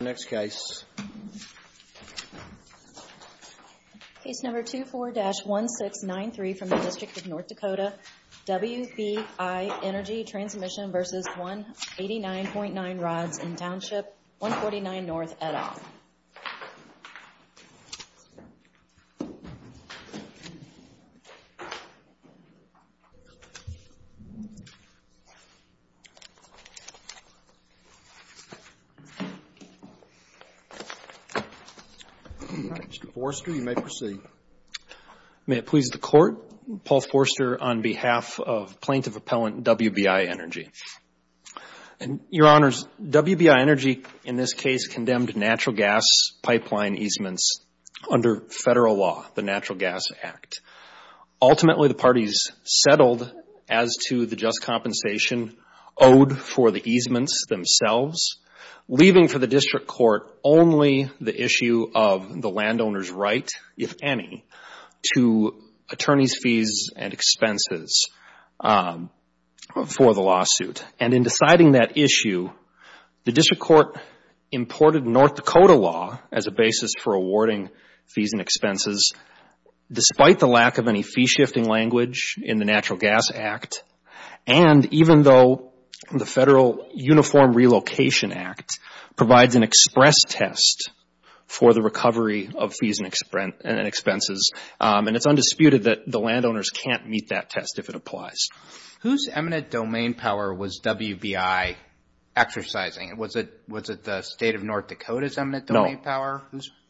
Our next case. Case number 24-1693 from the district of North Dakota, WBI Energy Transmission vs 189.9 rods in township 149 North, Edinburgh. Mr. Forster, you may proceed. May it please the court, Paul Forster on behalf of Plaintiff Appellant WBI Energy. Your Honors, WBI Energy in this case condemned natural gas pipeline easements under federal law, the Natural Gas Act. Ultimately the parties settled as to the just compensation owed for the easements themselves, leaving for the district court only the issue of the landowner's right, if any, to attorney's fees and expenses for the lawsuit. And in deciding that issue, the district court imported North Dakota law as a basis for awarding fees and expenses despite the lack of any fee shifting language in the Natural Gas Act and even though the Federal Uniform Relocation Act provides an express test for the recovery of fees and expenses. And it's undisputed that the landowners can't meet that test if it applies. Whose eminent domain power was WBI exercising? Was it the state of North Dakota's eminent domain power?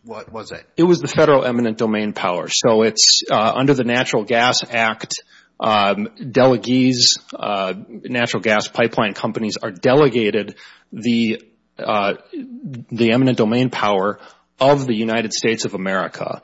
What was it? It was the federal eminent domain power. So it's under the Natural Gas Act, Delegees, natural gas pipeline companies are delegated the eminent domain power of the United States of America.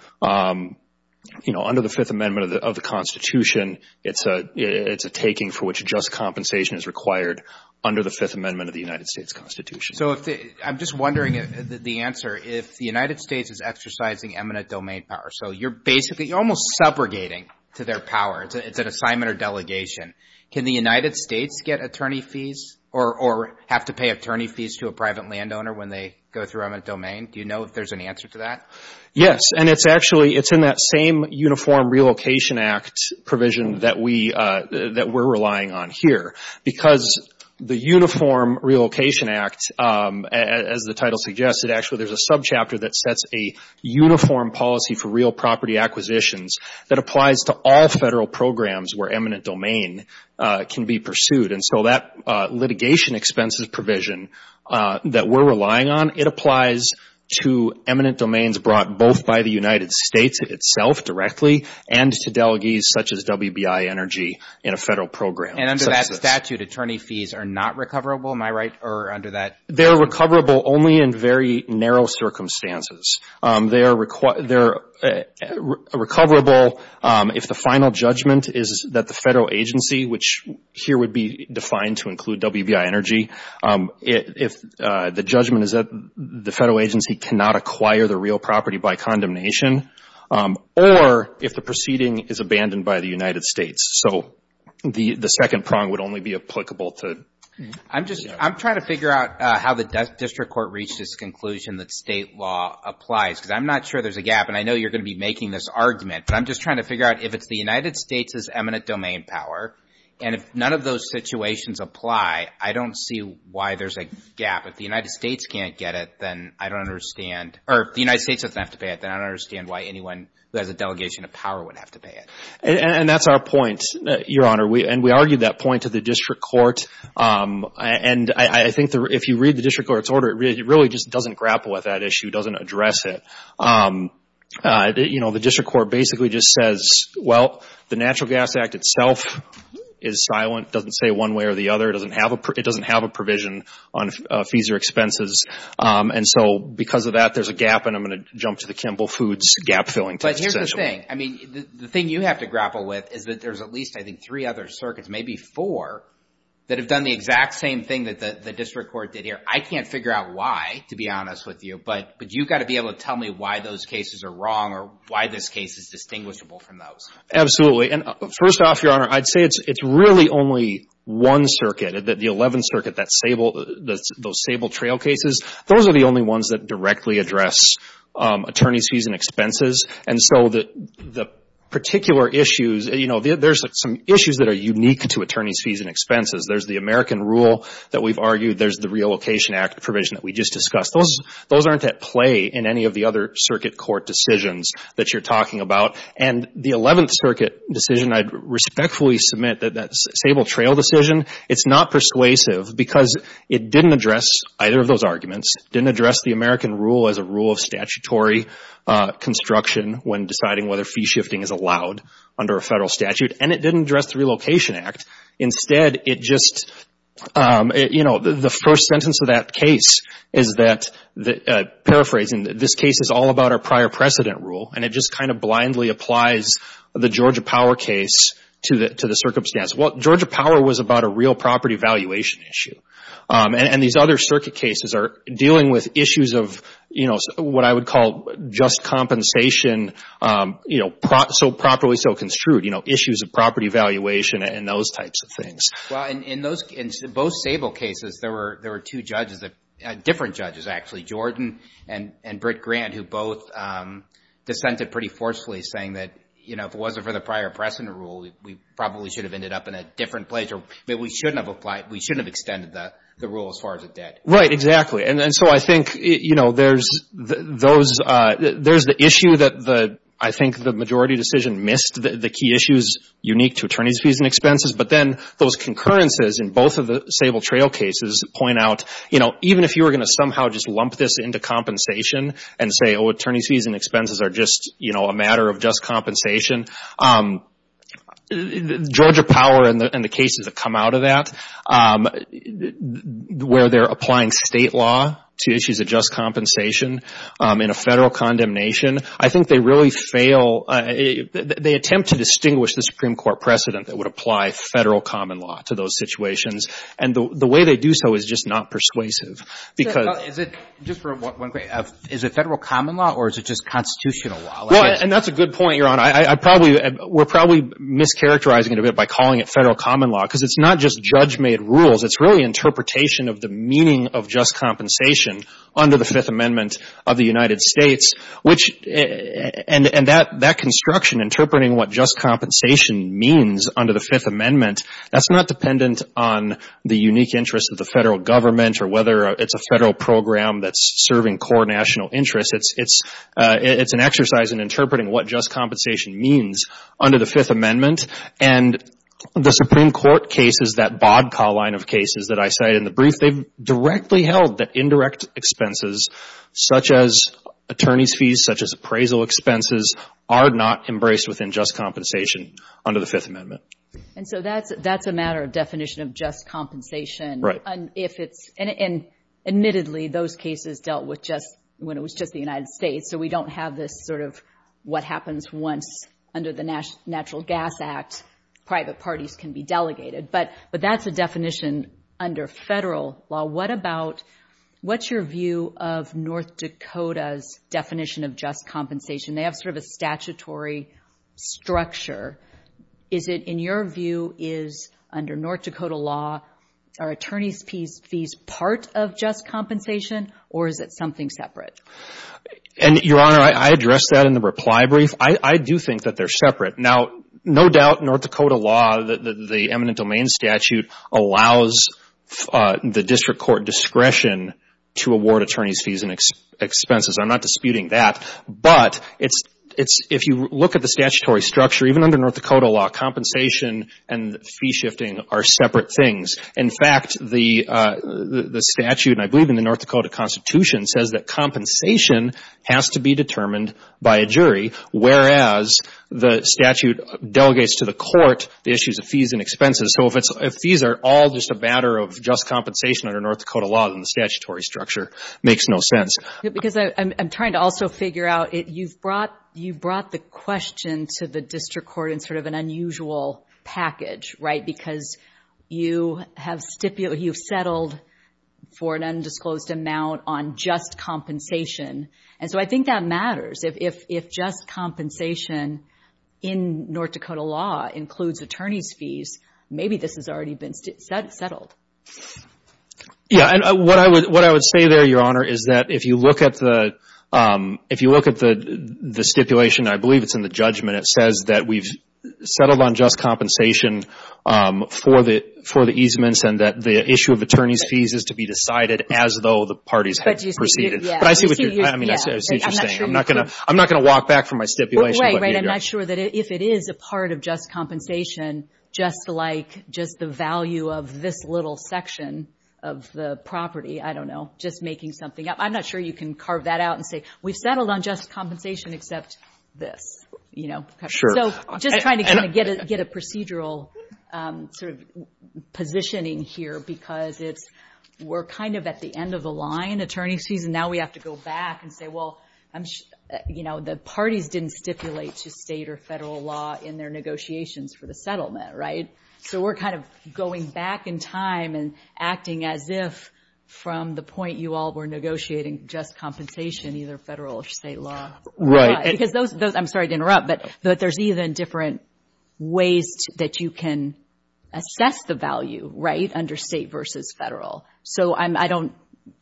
You know, under the Fifth Amendment of the Constitution, it's a taking for which just compensation is required under the Fifth Amendment of the United States Constitution. So I'm just wondering the answer. If the United States is exercising eminent domain power, so you're basically almost subrogating to their power. It's an assignment or delegation. Can the United States get attorney fees or have to pay attorney fees to a private landowner when they go through eminent domain? Do you know if there's an answer to that? Yes. And it's actually, it's in that same Uniform Relocation Act provision that we're relying on here. Because the Uniform Relocation Act, as the title suggests, it actually there's a subchapter that sets a uniform policy for real property acquisitions that applies to all federal programs where eminent domain can be pursued. And so that litigation expenses provision that we're relying on, it applies to eminent domains brought both by the United States itself directly and to delegates such as WBI Energy in a federal program. And under that statute, attorney fees are not recoverable, am I right? Or under that They're recoverable only in very narrow circumstances. They're recoverable if the final judgment is that the federal agency, which here would be defined to include WBI Energy, if the judgment is that the federal agency cannot acquire the real property by condemnation, or if the proceeding is abandoned by the United States. So the second prong would only be applicable to I'm just, I'm trying to figure out how the district court reached this conclusion that state law applies. Because I'm not sure there's a gap. And I know you're going to be making this argument. But I'm just trying to figure out if it's the United States' eminent domain power, and if none of those situations apply, I don't see why there's a gap. If the United States can't get it, then I don't understand. Or if the United States doesn't have to pay it, then I don't understand why anyone who has a delegation of power would have to pay it. And that's our point, Your Honor. And we argued that point to the district court. And I think if you read the district court's order, it really just doesn't grapple with that issue, doesn't address it. You know, the district court basically just says, well, the Natural Gas Act itself is silent, doesn't say one way or the other. It doesn't have a provision on fees or expenses. And so because of that, there's a gap. And I'm going to jump to the Kimball Foods gap-filling text, essentially. But here's the thing. I mean, the thing you have to grapple with is that there's at least, I think, three other circuits, maybe four, that have done the exact same thing that the district court did here. I can't figure out why, to be honest with you. But you've got to be able to tell me why those cases are wrong or why this case is distinguishable from those. Absolutely. And first off, Your Honor, I'd say it's really only one circuit, the 11th Circuit, those sable trail cases. Those are the only ones that directly address attorney's fees and expenses. And so the particular issues, there's some issues that are unique to attorney's fees and expenses. There's the American rule that we've argued. There's the Relocation Act provision that we just discussed. Those aren't at play in any of the other circuit court decisions that you're talking about. And the 11th Circuit decision, I'd respectfully submit that that sable trail decision, it's not persuasive because it didn't address either of those arguments. It didn't address the American rule as a rule of statutory construction when deciding whether fee shifting is allowed under a federal statute. And it didn't address the Relocation Act. Instead, the first sentence of that case is that, paraphrasing, this case is all about our prior precedent rule and it just kind of blindly applies the Georgia Power case to the circumstance. Well, Georgia Power was about a real property valuation issue. And these other circuit cases are dealing with issues of what I would call just compensation, so properly so construed. Issues of property valuation and those types of things. In both sable cases, there were two judges, different judges actually, Jordan and Britt Grant who both dissented pretty forcefully saying that if it wasn't for the prior precedent rule, we probably should have ended up in a different place or we shouldn't have extended the rule as far as a debt. Right, exactly. And so I think there's the issue that I think the majority decision missed, the key issues unique to attorney's fees and expenses. But then those concurrences in both of the sable trail cases point out, even if you were going to somehow just lump this into compensation and say, oh, attorney's fees and expenses are just a matter of just compensation, Georgia Power and the cases that come out of that where they're applying state law to issues of just compensation in a federal condemnation, I think they really fail. They attempt to distinguish the Supreme Court precedent that would apply federal common law to those situations. And the way they do so is just not persuasive because... Is it, just for one quick, is it federal common law or is it just constitutional law? And that's a good point, Your Honor. We're probably mischaracterizing it a bit by calling it federal common law because it's not just judge-made rules. It's really interpretation of the meaning of just compensation under the Fifth Amendment of the United States. And that construction, interpreting what just compensation means under the Fifth Amendment, that's not dependent on the unique interest of the federal government or whether it's a federal program that's serving core national interests. It's an exercise in interpreting what just compensation means under the Fifth Amendment. And the Supreme Court cases, that BODCAW line of cases that I cited in the brief, they've directly held that indirect expenses such as attorney's fees, such as appraisal expenses, are not embraced within just compensation under the Fifth Amendment. And so that's a matter of definition of just compensation. Right. And admittedly, those cases dealt with just when it was just the United States. So we don't have this sort of what happens once under the Natural Gas Act, private parties can be delegated. But that's a definition under federal law. What about, what's your view of North Dakota's definition of just compensation? They have sort of a statutory structure. Is it, in your view, is under North Dakota law, are attorney's fees part of just compensation or is it something separate? And Your Honor, I addressed that in the reply brief. I do think that they're separate. Now, no doubt North Dakota law, the eminent domain statute, allows the district court discretion to award attorney's fees and expenses. I'm not disputing that. But it's, if you look at the statutory structure, even under North Dakota law, compensation and fee shifting are separate things. In fact, the statute, and I believe in the North Dakota Constitution, says that compensation has to be determined by a jury, whereas the statute delegates to the court the issues of fees and expenses. So if fees are all just a matter of just compensation under North Dakota law, then the statutory structure makes no sense. Because I'm trying to also figure out, you've brought the question to the district court in sort of an unusual package, right? Because you have settled for an undisclosed amount on just compensation. And so I think that matters. If just compensation in North Dakota law includes attorney's fees, maybe this has already been settled. Yeah. And what I would say there, Your Honor, is that if you look at the stipulation, I believe it's in the judgment, it says that we've settled on just compensation for the easements and that the issue of attorney's fees is to be decided as though the parties had proceeded. But I see what you're saying. I'm not going to walk back from my stipulation. Right, right. I'm not sure that if it is a part of just compensation, just like just the value of this little section of the property, I don't know, just making something up. I'm not sure you can carve that out and say, we've settled on just compensation except this, you know? So just trying to get a procedural sort of positioning here because we're kind of at the end of the line, attorney's fees, and now we have to go back and say, well, the parties didn't stipulate to state or federal law in their negotiations for the settlement, right? So we're kind of going back in time and acting as if from the point you all were negotiating just compensation, either federal or state law. Because those, I'm sorry to interrupt, but there's even different ways that you can assess the value, right, under state versus federal. So I don't,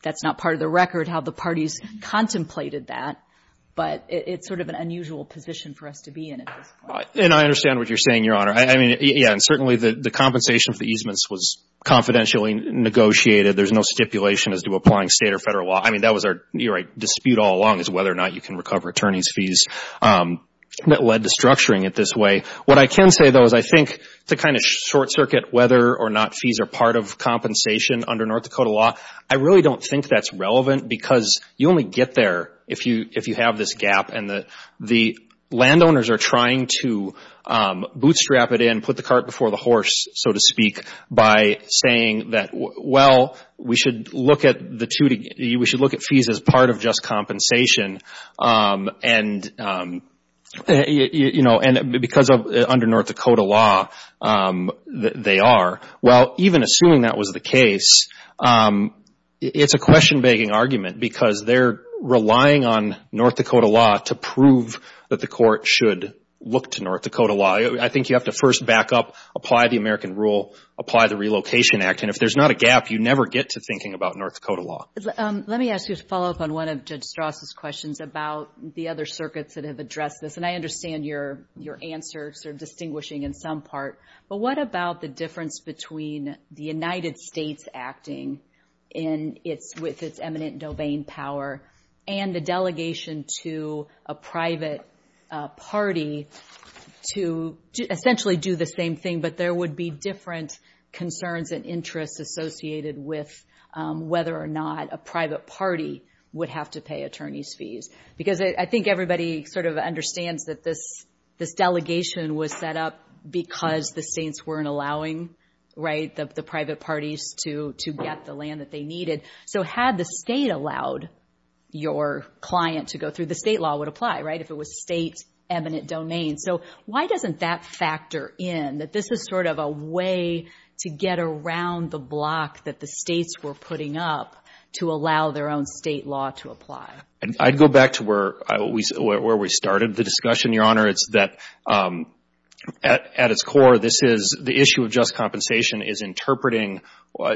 that's not part of the record how the parties contemplated that, but it's sort of an unusual position for us to be in at this point. And I understand what you're saying, Your Honor. I mean, yeah, and certainly the compensation for easements was confidentially negotiated. There's no stipulation as to applying state or federal law. I mean, that was our dispute all along is whether or not you can recover attorney's fees that led to structuring it this way. What I can say, though, is I think to kind of short circuit whether or not fees are part of compensation under North Dakota law, I really don't think that's relevant because you only get there if you have this gap and the landowners are trying to bootstrap it in, put the cart before the horse, so to speak, by saying that, well, we should look at the two, we should look at fees as part of just compensation. And, you know, because under North Dakota law, they are. Well, even assuming that was the case, it's a question-begging argument because they're relying on North Dakota law to prove that the court should look to North Dakota law. I think you have to first back up, apply the American Rule, apply the Relocation Act. And if there's not a gap, you never get to thinking about North Dakota law. Let me ask you to follow up on one of Judge Strauss' questions about the other circuits that have addressed this. And I understand your answer sort of distinguishing in some part, but what about the difference between the United States acting with its eminent domain power and the delegation to a private party to essentially do the same thing, but there would be different concerns and interests associated with whether or not a private party would have to pay attorneys' fees? Because I think everybody sort of understands that this delegation was set up because the states weren't allowing, right, the private parties to get the land that they needed. So had the state allowed your client to go through, the state law would apply, right, if it was state-eminent domain. So why doesn't that factor in that this is sort of a way to get around the block that the states were putting up to allow their own state law to apply? I'd go back to where we started the discussion, Your Honor. It's that at its core, this is the issue of just compensation is interpreting,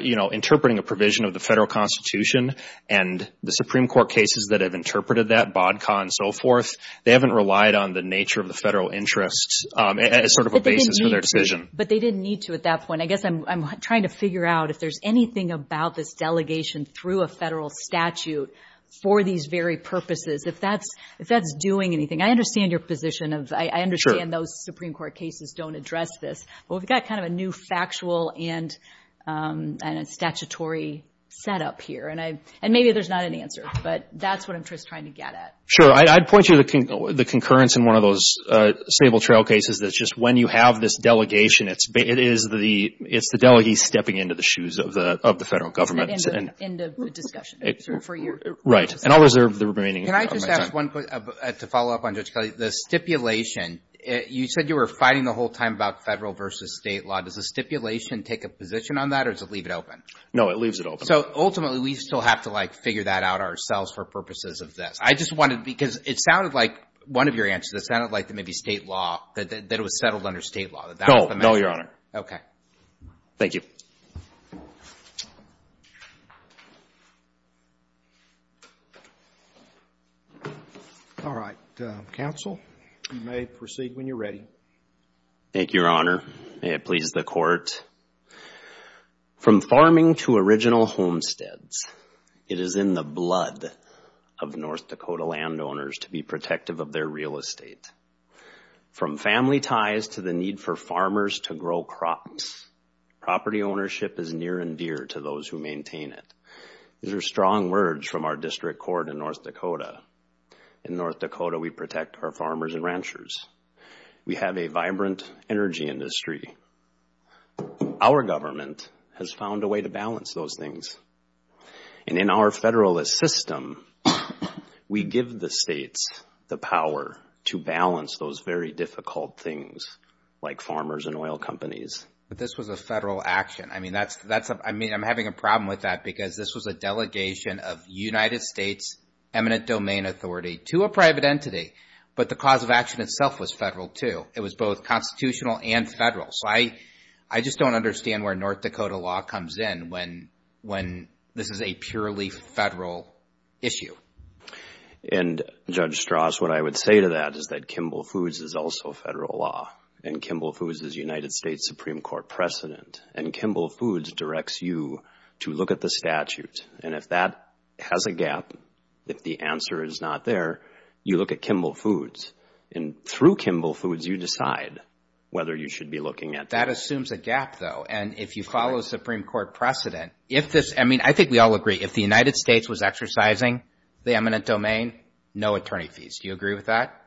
you know, interpreting a provision of the federal constitution, and the Supreme Court cases that have interpreted that, BODCA and so forth, they haven't relied on the nature of the federal interests as sort of a basis for their decision. But they didn't need to at that point. I guess I'm trying to figure out if there's anything about this delegation through a federal statute for these very purposes, if that's doing anything. I understand your position of, I understand those Supreme Court cases don't address this, but we've got kind of a new factual and statutory setup here. And maybe there's not an answer, but that's what I'm just trying to get at. Sure. I'd point you to the concurrence in one of those stable trail cases that just when you have this delegation, it's the delegates stepping into the shoes of the federal government. End of discussion. Right. And I'll reserve the remaining of my time. Can I just add one point to follow up on Judge Kelly? The stipulation, you said you were fighting the whole time about federal versus State law. Does the stipulation take a position on that or does it leave it open? No, it leaves it open. So ultimately, we still have to like figure that out ourselves for purposes of this. I just wanted, because it sounded like one of your answers, it sounded like maybe State law, that it was settled under State law. No. No, Your Honor. Okay. Thank you. All right. Counsel, you may proceed when you're ready. Thank you, Your Honor. May it please the Court. From farming to original homesteads, it is in the blood of North Dakota landowners to be protective of their real estate. From family ties to the need for farmers to grow crops, property ownership is near and dear to those who maintain it. These are strong words from our district court in North Dakota. In North Dakota, we protect our farmers and ranchers. We have a vibrant energy industry. Our government has found a way to balance those things. And in our federalist system, we give the States the power to balance those very difficult things like farmers and oil companies. This was a federal action. I mean, I'm having a problem with that because this was a delegation of United States eminent domain authority to a private entity. But the cause of action itself was federal too. It was both constitutional and federal. So I just don't understand where North Dakota law comes in when this is a purely federal issue. And Judge Strauss, what I would say to that is that Kimball Foods is also federal law. And Kimball Foods is United States Supreme Court precedent. And Kimball Foods directs you to look at the statute. And if that has a gap, if the answer is not there, you look at Kimball Foods. And through Kimball Foods, you decide whether you should be looking at it. That assumes a gap though. And if you follow the Supreme Court precedent, if this, I mean, I think we all agree, if the United States was exercising the eminent domain, no attorney fees. Do you agree with that?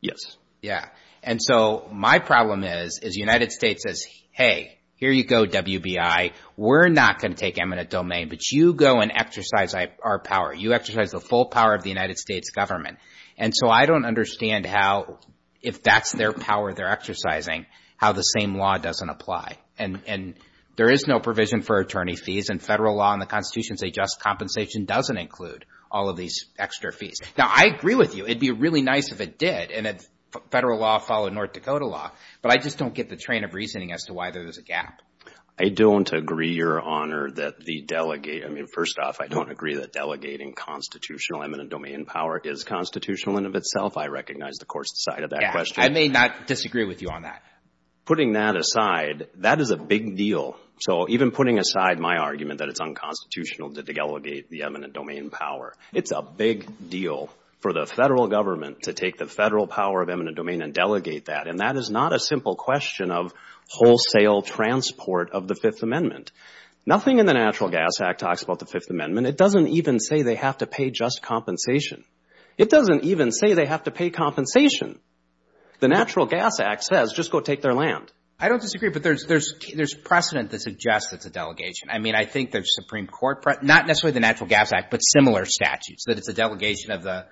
Yes. Yeah. And so my problem is, is United States says, hey, here you go WBI. We're not going to take eminent domain, but you go and exercise our power. You exercise the full power of the United States government. And so I don't understand how, if that's their power they're exercising, how the same law doesn't apply. And there is no provision for attorney fees. And federal law and the Constitution say just compensation doesn't include all of these extra fees. Now, I agree with you. It'd be really nice if it did and if federal law followed North Dakota law. But I just don't get the train of reasoning as to why there's a gap. I don't agree, Your Honor, that the delegate, I mean, first off, I don't agree that delegating constitutional eminent domain power is constitutional in and of itself. I recognize the court's side of that question. I may not disagree with you on that. Putting that aside, that is a big deal. So even putting aside my argument that it's unconstitutional to delegate the eminent domain power, it's a big deal for the federal government to take the federal power of eminent domain and delegate that. And that is not a simple question of wholesale transport of the Fifth Amendment. Nothing in the Natural Gas Act talks about the Fifth Amendment. It doesn't even say they have to pay just compensation. It doesn't even say they have to pay compensation. The Natural Gas Act says just go take their land. I don't disagree, but there's precedent that suggests it's a delegation. I mean, I think the Supreme Court, not necessarily the Natural Gas Act, but similar statutes, that it's a delegation of the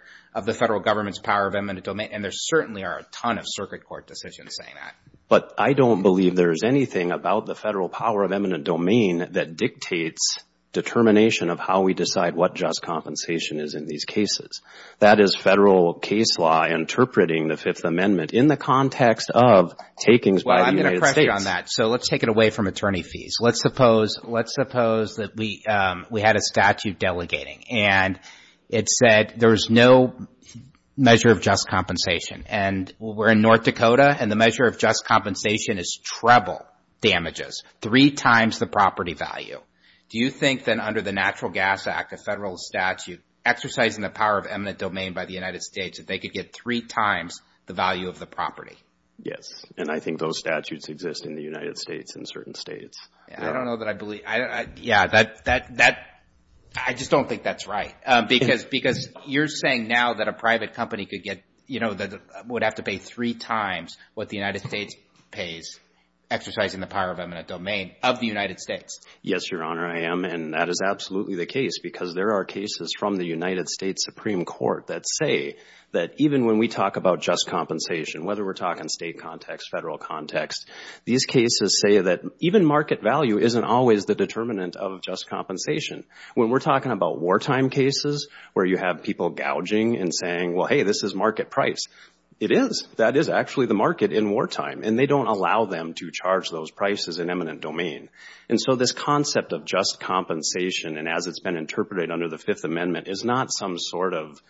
federal government's power of eminent domain. And there certainly are a ton of circuit court decisions saying that. But I don't believe there is anything about the federal power of eminent domain that dictates determination of how we decide what just compensation is in these cases. That is federal case law interpreting the Fifth Amendment in the context of takings by the United States. Well, I'm going to correct you on that. So let's take it away from attorney fees. Let's suppose that we had a statute delegating. And it said there's no measure of just compensation. And we're in North Dakota, and the measure of just compensation is treble damages, three times the property value. Do you think then under the Natural Gas Act, a federal statute exercising the power of eminent domain by the United States, that they could get three times the value of the Yes. And I think those statutes exist in the United States and certain states. I don't know that I believe. I just don't think that's right. Because you're saying now that a private company would have to pay three times what the United States pays exercising the power of eminent domain of the United States. Yes, Your Honor, I am. And that is absolutely the case. Because there are cases from the United States Supreme Court that say that even when we talk about just compensation, whether we're talking state context, federal context, these cases say that even market value isn't always the determinant of just compensation. When we're talking about wartime cases where you have people gouging and saying, well, hey, this is market price, it is. That is actually the market in wartime. And they don't allow them to charge those prices in eminent domain. And so this concept of just compensation, and as it's been interpreted under the Fifth Amendment, is not some sort of,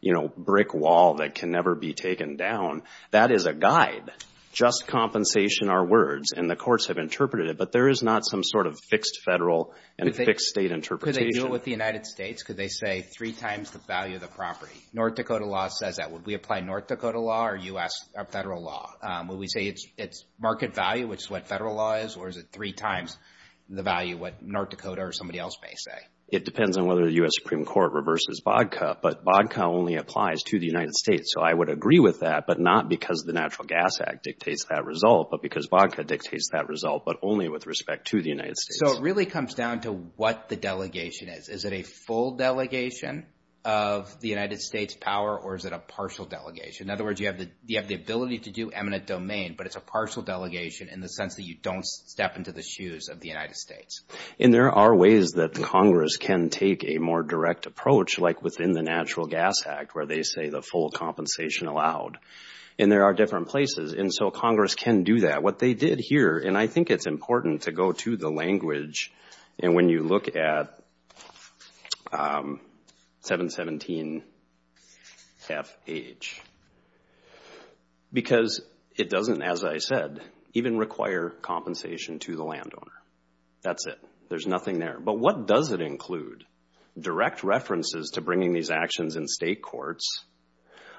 you know, brick wall that can never be taken down. That is a guide. Just compensation are words. And the courts have interpreted it, but there is not some sort of fixed federal and fixed state interpretation. Could they do it with the United States? Could they say three times the value of the property? North Dakota law says that. Would we apply North Dakota law or U.S. federal law? Would we say it's market value, which is what federal law is, or is it three times the value what North Dakota or somebody else may say? It depends on whether the U.S. Supreme Court reverses BODCA. But BODCA only applies to the United States. So I would agree with that, but not because the Natural Gas Act dictates that result, but because BODCA dictates that result, but only with respect to the United States. So it really comes down to what the delegation is. Is it a full delegation of the United States power, or is it a partial delegation? In other words, you have the ability to do eminent domain, but it's a partial delegation in the sense that you don't step into the shoes of the United States. And there are ways that Congress can take a more direct approach, like within the Natural Gas Act, where they say the full compensation allowed. And there are different places. And so Congress can do that. What they did here, and I think it's important to go to the language, and when you look at 717 FH, because it doesn't, as I said, even require compensation to the landowner. That's it. There's nothing there. But what does it include? Direct references to bringing these actions in state courts,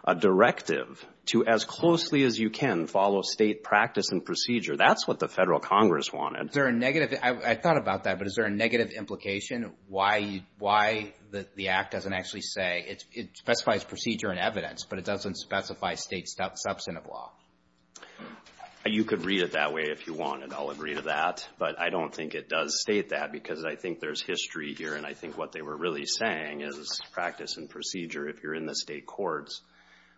a directive to as closely as you can follow state practice and procedure. That's what the federal Congress wanted. Is there a negative? I thought about that, but is there a negative implication? Why the act doesn't actually say, it specifies procedure and evidence, but it doesn't specify state substantive law? You could read it that way if you wanted. I'll agree to that. But I don't think it does state that, because I think there's history here, and I think what they were really saying is practice and procedure if you're in the state courts.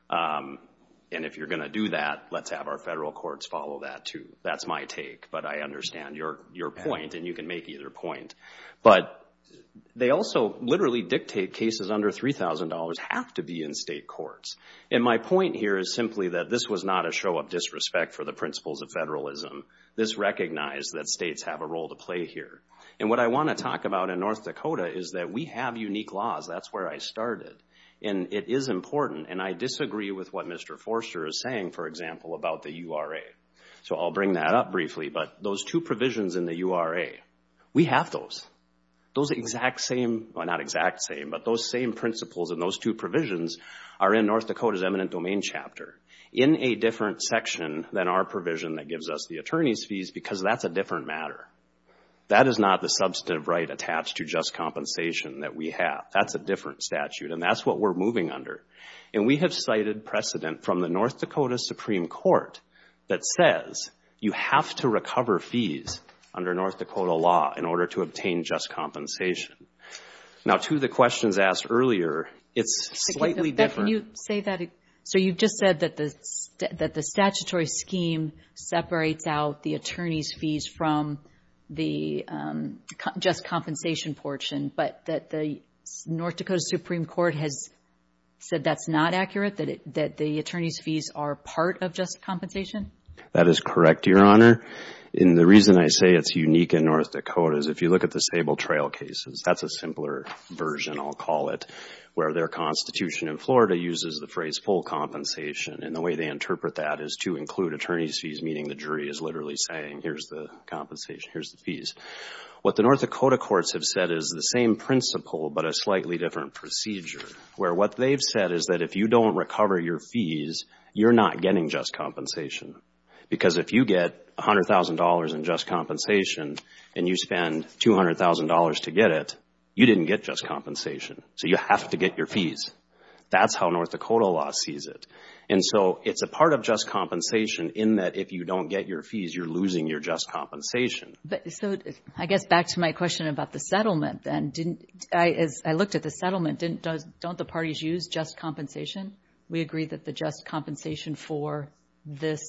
And if you're going to do that, let's have our federal courts follow that, too. That's my take, but I understand your point, and you can make either point. But they also literally dictate cases under $3,000 have to be in state courts. And my point here is simply that this was not a show of disrespect for the principles of federalism. This recognized that states have a role to play here. And what I want to talk about in North Dakota is that we have unique laws. That's where I started. And it is important, and I disagree with what Mr. Forster is saying, for example, about the URA. So I'll bring that up briefly. But those two provisions in the URA, we have those. Those exact same, well, not exact same, but those same principles and those two provisions are in North Dakota's eminent domain chapter in a different section than our provision that gives us the attorney's fees, because that's a different matter. That is not the substantive right attached to just compensation that we have. That's a different statute, and that's what we're moving under. And we have cited precedent from the North Dakota Supreme Court that says you have to recover fees under North Dakota law in order to obtain just compensation. Now two of the questions asked earlier, it's slightly different. Can you say that again? So you just said that the statutory scheme separates out the attorney's fees from the just compensation portion, but that the North Dakota Supreme Court has said that's not accurate, that the attorney's fees are part of just compensation? That is correct, Your Honor. And the reason I say it's unique in North Dakota is if you look at the Sable Trail cases, that's a simpler version, I'll call it, where their constitution in Florida uses the phrase full compensation. And the way they interpret that is to include attorney's fees, meaning the jury is literally saying here's the compensation, here's the fees. What the North Dakota courts have said is the same principle but a slightly different procedure, where what they've said is that if you don't recover your fees, you're not getting just compensation. Because if you get $100,000 in just compensation and you spend $200,000 to get it, you didn't get just compensation, so you have to get your fees. That's how North Dakota law sees it. And so, it's a part of just compensation in that if you don't get your fees, you're losing your just compensation. But, so, I guess back to my question about the settlement, then, didn't, as I looked at the settlement, don't the parties use just compensation? We agree that the just compensation for this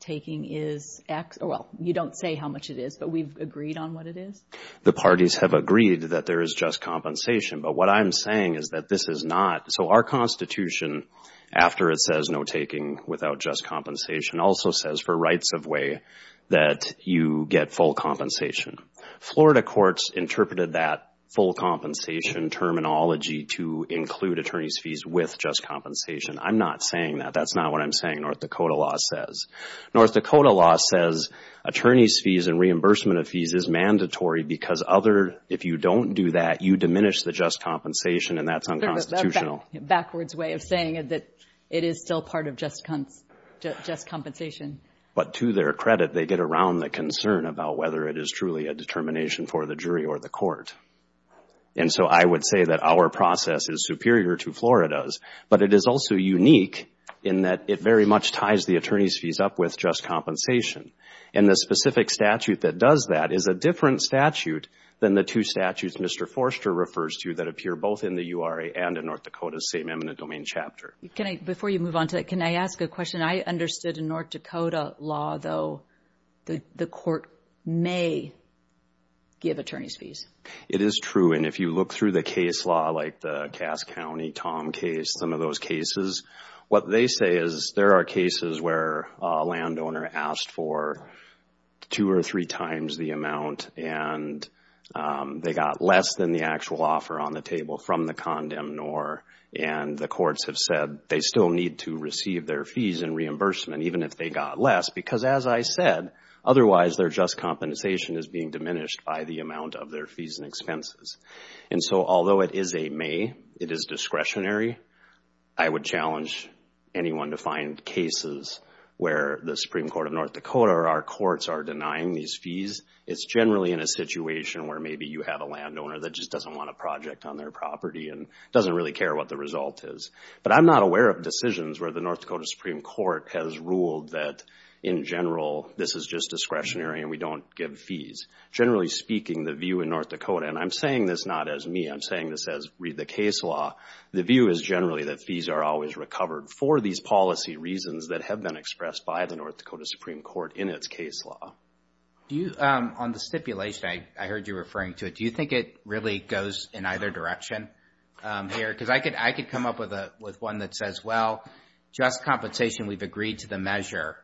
taking is X, well, you don't say how much it is, but we've agreed on what it is? The parties have agreed that there is just compensation, but what I'm saying is that this is not. So, our Constitution, after it says no taking without just compensation, also says for rights of way that you get full compensation. Florida courts interpreted that full compensation terminology to include attorney's fees with just compensation. I'm not saying that. That's not what I'm saying North Dakota law says. North Dakota law says attorney's fees and reimbursement of fees is mandatory because other, if you don't do that, you diminish the just compensation and that's unconstitutional. Backwards way of saying that it is still part of just compensation. But to their credit, they get around the concern about whether it is truly a determination for the jury or the court. And so, I would say that our process is superior to Florida's, but it is also unique in that it very much ties the attorney's fees up with just compensation. And the specific statute that does that is a different statute than the two statutes Mr. Forster refers to that appear both in the URA and in North Dakota's same eminent domain chapter. Can I, before you move on to that, can I ask a question? I understood in North Dakota law, though, the court may give attorney's fees. It is true, and if you look through the case law, like the Cass County Tom case, some of those cases, what they say is there are cases where a landowner asked for two or three times the amount and they got less than the actual offer on the table from the condemnor and the courts have said they still need to receive their fees and reimbursement even if they got less because, as I said, otherwise their just compensation is being diminished by the amount of their fees and expenses. And so, although it is a may, it is discretionary. I would challenge anyone to find cases where the Supreme Court of North Dakota or our courts are denying these fees. It's generally in a situation where maybe you have a landowner that just doesn't want a project on their property and doesn't really care what the result is. But I'm not aware of decisions where the North Dakota Supreme Court has ruled that, in general, this is just discretionary and we don't give fees. Generally speaking, the view in North Dakota, and I'm saying this not as me, I'm saying this as read the case law, the view is generally that fees are always recovered for these policy reasons that have been expressed by the North Dakota Supreme Court in its case law. On the stipulation, I heard you referring to it, do you think it really goes in either direction here? Because I could come up with one that says, well, just compensation, we've agreed to the measure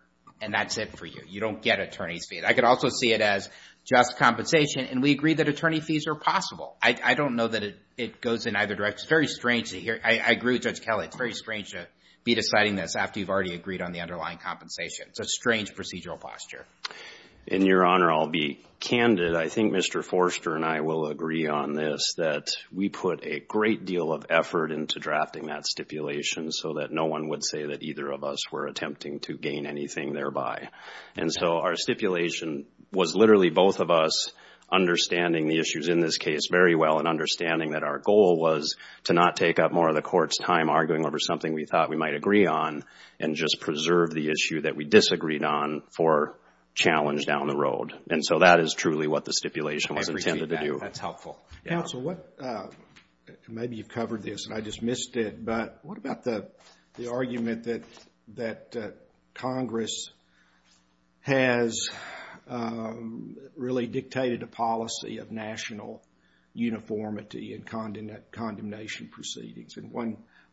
and that's it for you. You don't get attorney's fees. I could also see it as just compensation and we agree that attorney fees are possible. I don't know that it goes in either direction. It's very strange to hear, I agree with Judge Kelly, it's very strange to be deciding this after you've already agreed on the underlying compensation. It's a strange procedural posture. In your honor, I'll be candid. I think Mr. Forster and I will agree on this, that we put a great deal of effort into drafting that stipulation so that no one would say that either of us were attempting to gain anything thereby. And so our stipulation was literally both of us understanding the issues in this case very well and understanding that our goal was to not take up more of the court's time arguing over something we thought we might agree on and just preserve the issue that we disagreed on for challenge down the road. And so that is truly what the stipulation was intended to do. That's helpful. Counsel, what, maybe you've covered this and I just missed it, but what about the argument that Congress has really dictated a policy of national uniformity in condemnation proceedings? And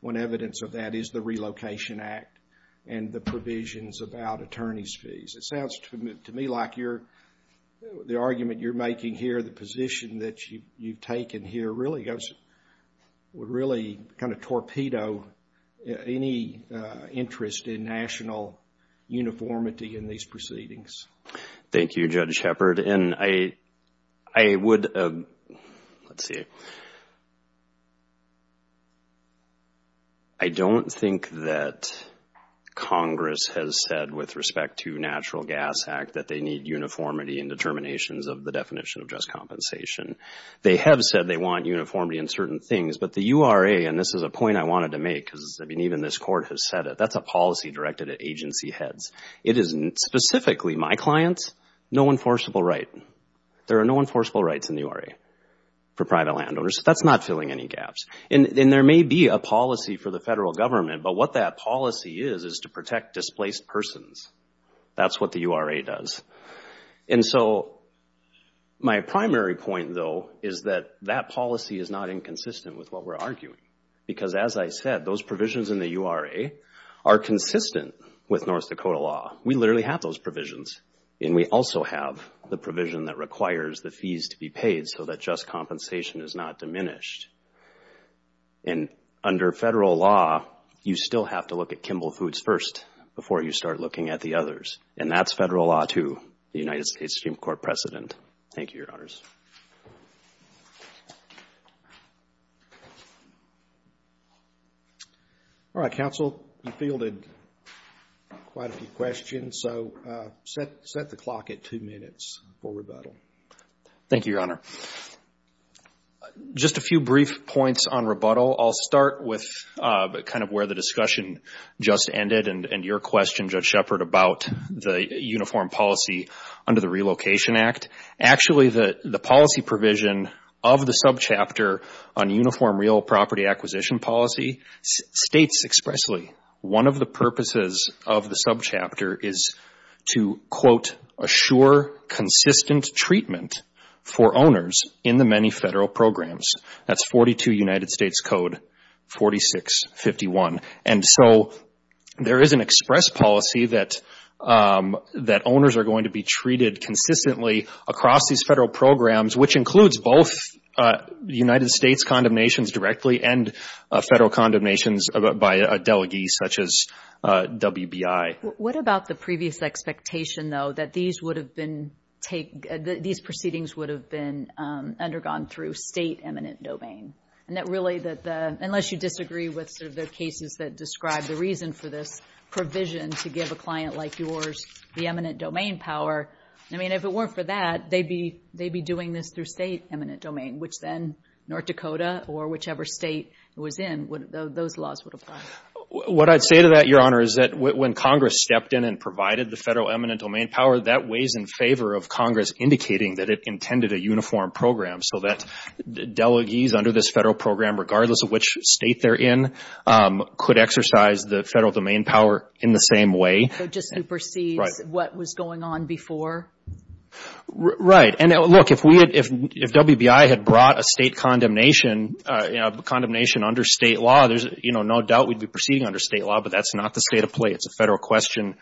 one evidence of that is the Relocation Act and the provisions about attorney's fees. It sounds to me like the argument you're making here, the position that you've taken here really goes, would really kind of torpedo any interest in national uniformity in these proceedings. Thank you, Judge Shepard. And I would, let's see, I don't think that Congress has said with respect to Natural Gas Act that they need uniformity in determinations of the definition of just compensation. They have said they want uniformity in certain things, but the URA, and this is a point I wanted to make because even this court has said it, that's a policy directed at agency heads. It is specifically my clients, no enforceable right. There are no enforceable rights in the URA for private landowners. That's not filling any gaps. And there may be a policy for the federal government, but what that policy is is to protect displaced persons. That's what the URA does. And so, my primary point, though, is that that policy is not inconsistent with what we're arguing. Because as I said, those provisions in the URA are consistent with North Dakota law. We literally have those provisions, and we also have the provision that requires the fees to be paid so that just compensation is not diminished. And under federal law, you still have to look at Kimball Foods first before you start looking at the others. And that's federal law, too, the United States Supreme Court precedent. Thank you, Your Honors. All right, counsel, you fielded quite a few questions, so set the clock at two minutes for rebuttal. Thank you, Your Honor. Just a few brief points on rebuttal. I'll start with kind of where the discussion just ended and your question, Judge Shepard, about the uniform policy under the Relocation Act. Actually, the policy provision of the subchapter on uniform real property acquisition policy states expressly one of the purposes of the subchapter is to, quote, assure consistent treatment for owners in the many federal programs. That's 42 United States Code 4651. And so there is an express policy that owners are going to be treated consistently across these federal programs, which includes both United States condemnations directly and federal condemnations by a delegee, such as WBI. What about the previous expectation, though, that these proceedings would have been undergone through state eminent domain? And that really, unless you disagree with sort of the cases that describe the reason for this provision to give a client like yours the eminent domain power, I mean, if it weren't for that, they'd be doing this through state eminent domain, which then North Dakota or whichever state it was in, those laws would apply. What I'd say to that, Your Honor, is that when Congress stepped in and provided the federal eminent domain power, that weighs in favor of Congress indicating that it intended a uniform program so that delegees under this federal program, regardless of which state they're in, could exercise the federal domain power in the same way. So just supersedes what was going on before? Right. And, look, if WBI had brought a state condemnation under state law, there's no doubt we'd be proceeding under state law, but that's not the state of play. It's a federal question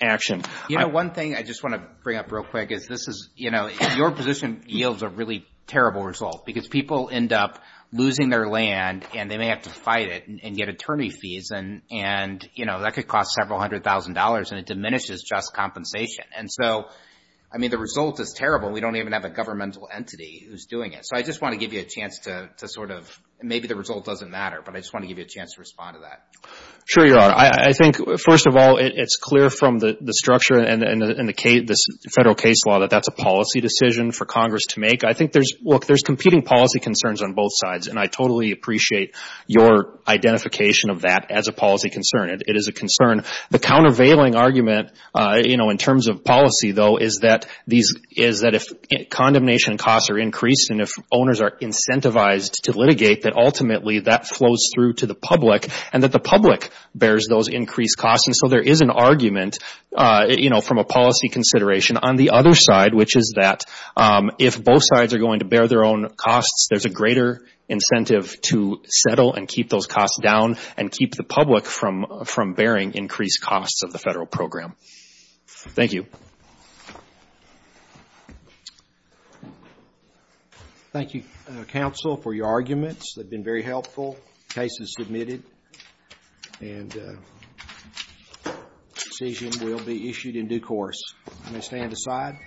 action. You know, one thing I just want to bring up real quick is this is, you know, your position yields a really terrible result because people end up losing their land and they may have to fight it and get attorney fees and, you know, that could cost several hundred thousand dollars and it diminishes just compensation. And so, I mean, the result is terrible. We don't even have a governmental entity who's doing it. So I just want to give you a chance to sort of, maybe the result doesn't matter, but I just want to give you a chance to respond to that. Sure, Your Honor. I think, first of all, it's clear from the structure and the federal case law that that's a policy decision for Congress to make. I think there's, look, there's competing policy concerns on both sides. And I totally appreciate your identification of that as a policy concern. It is a concern. The countervailing argument, you know, in terms of policy, though, is that if condemnation costs are increased and if owners are incentivized to litigate, that ultimately that flows through to the public and that the public bears those increased costs. And so there is an argument, you know, from a policy consideration on the other side, which is that if both sides are going to bear their own costs, there's a greater incentive to settle and keep those costs down and keep the public from bearing increased costs of the federal program. Thank you. Thank you, counsel, for your arguments. They've been very helpful. The case is submitted, and the decision will be issued in due course. May I stand aside?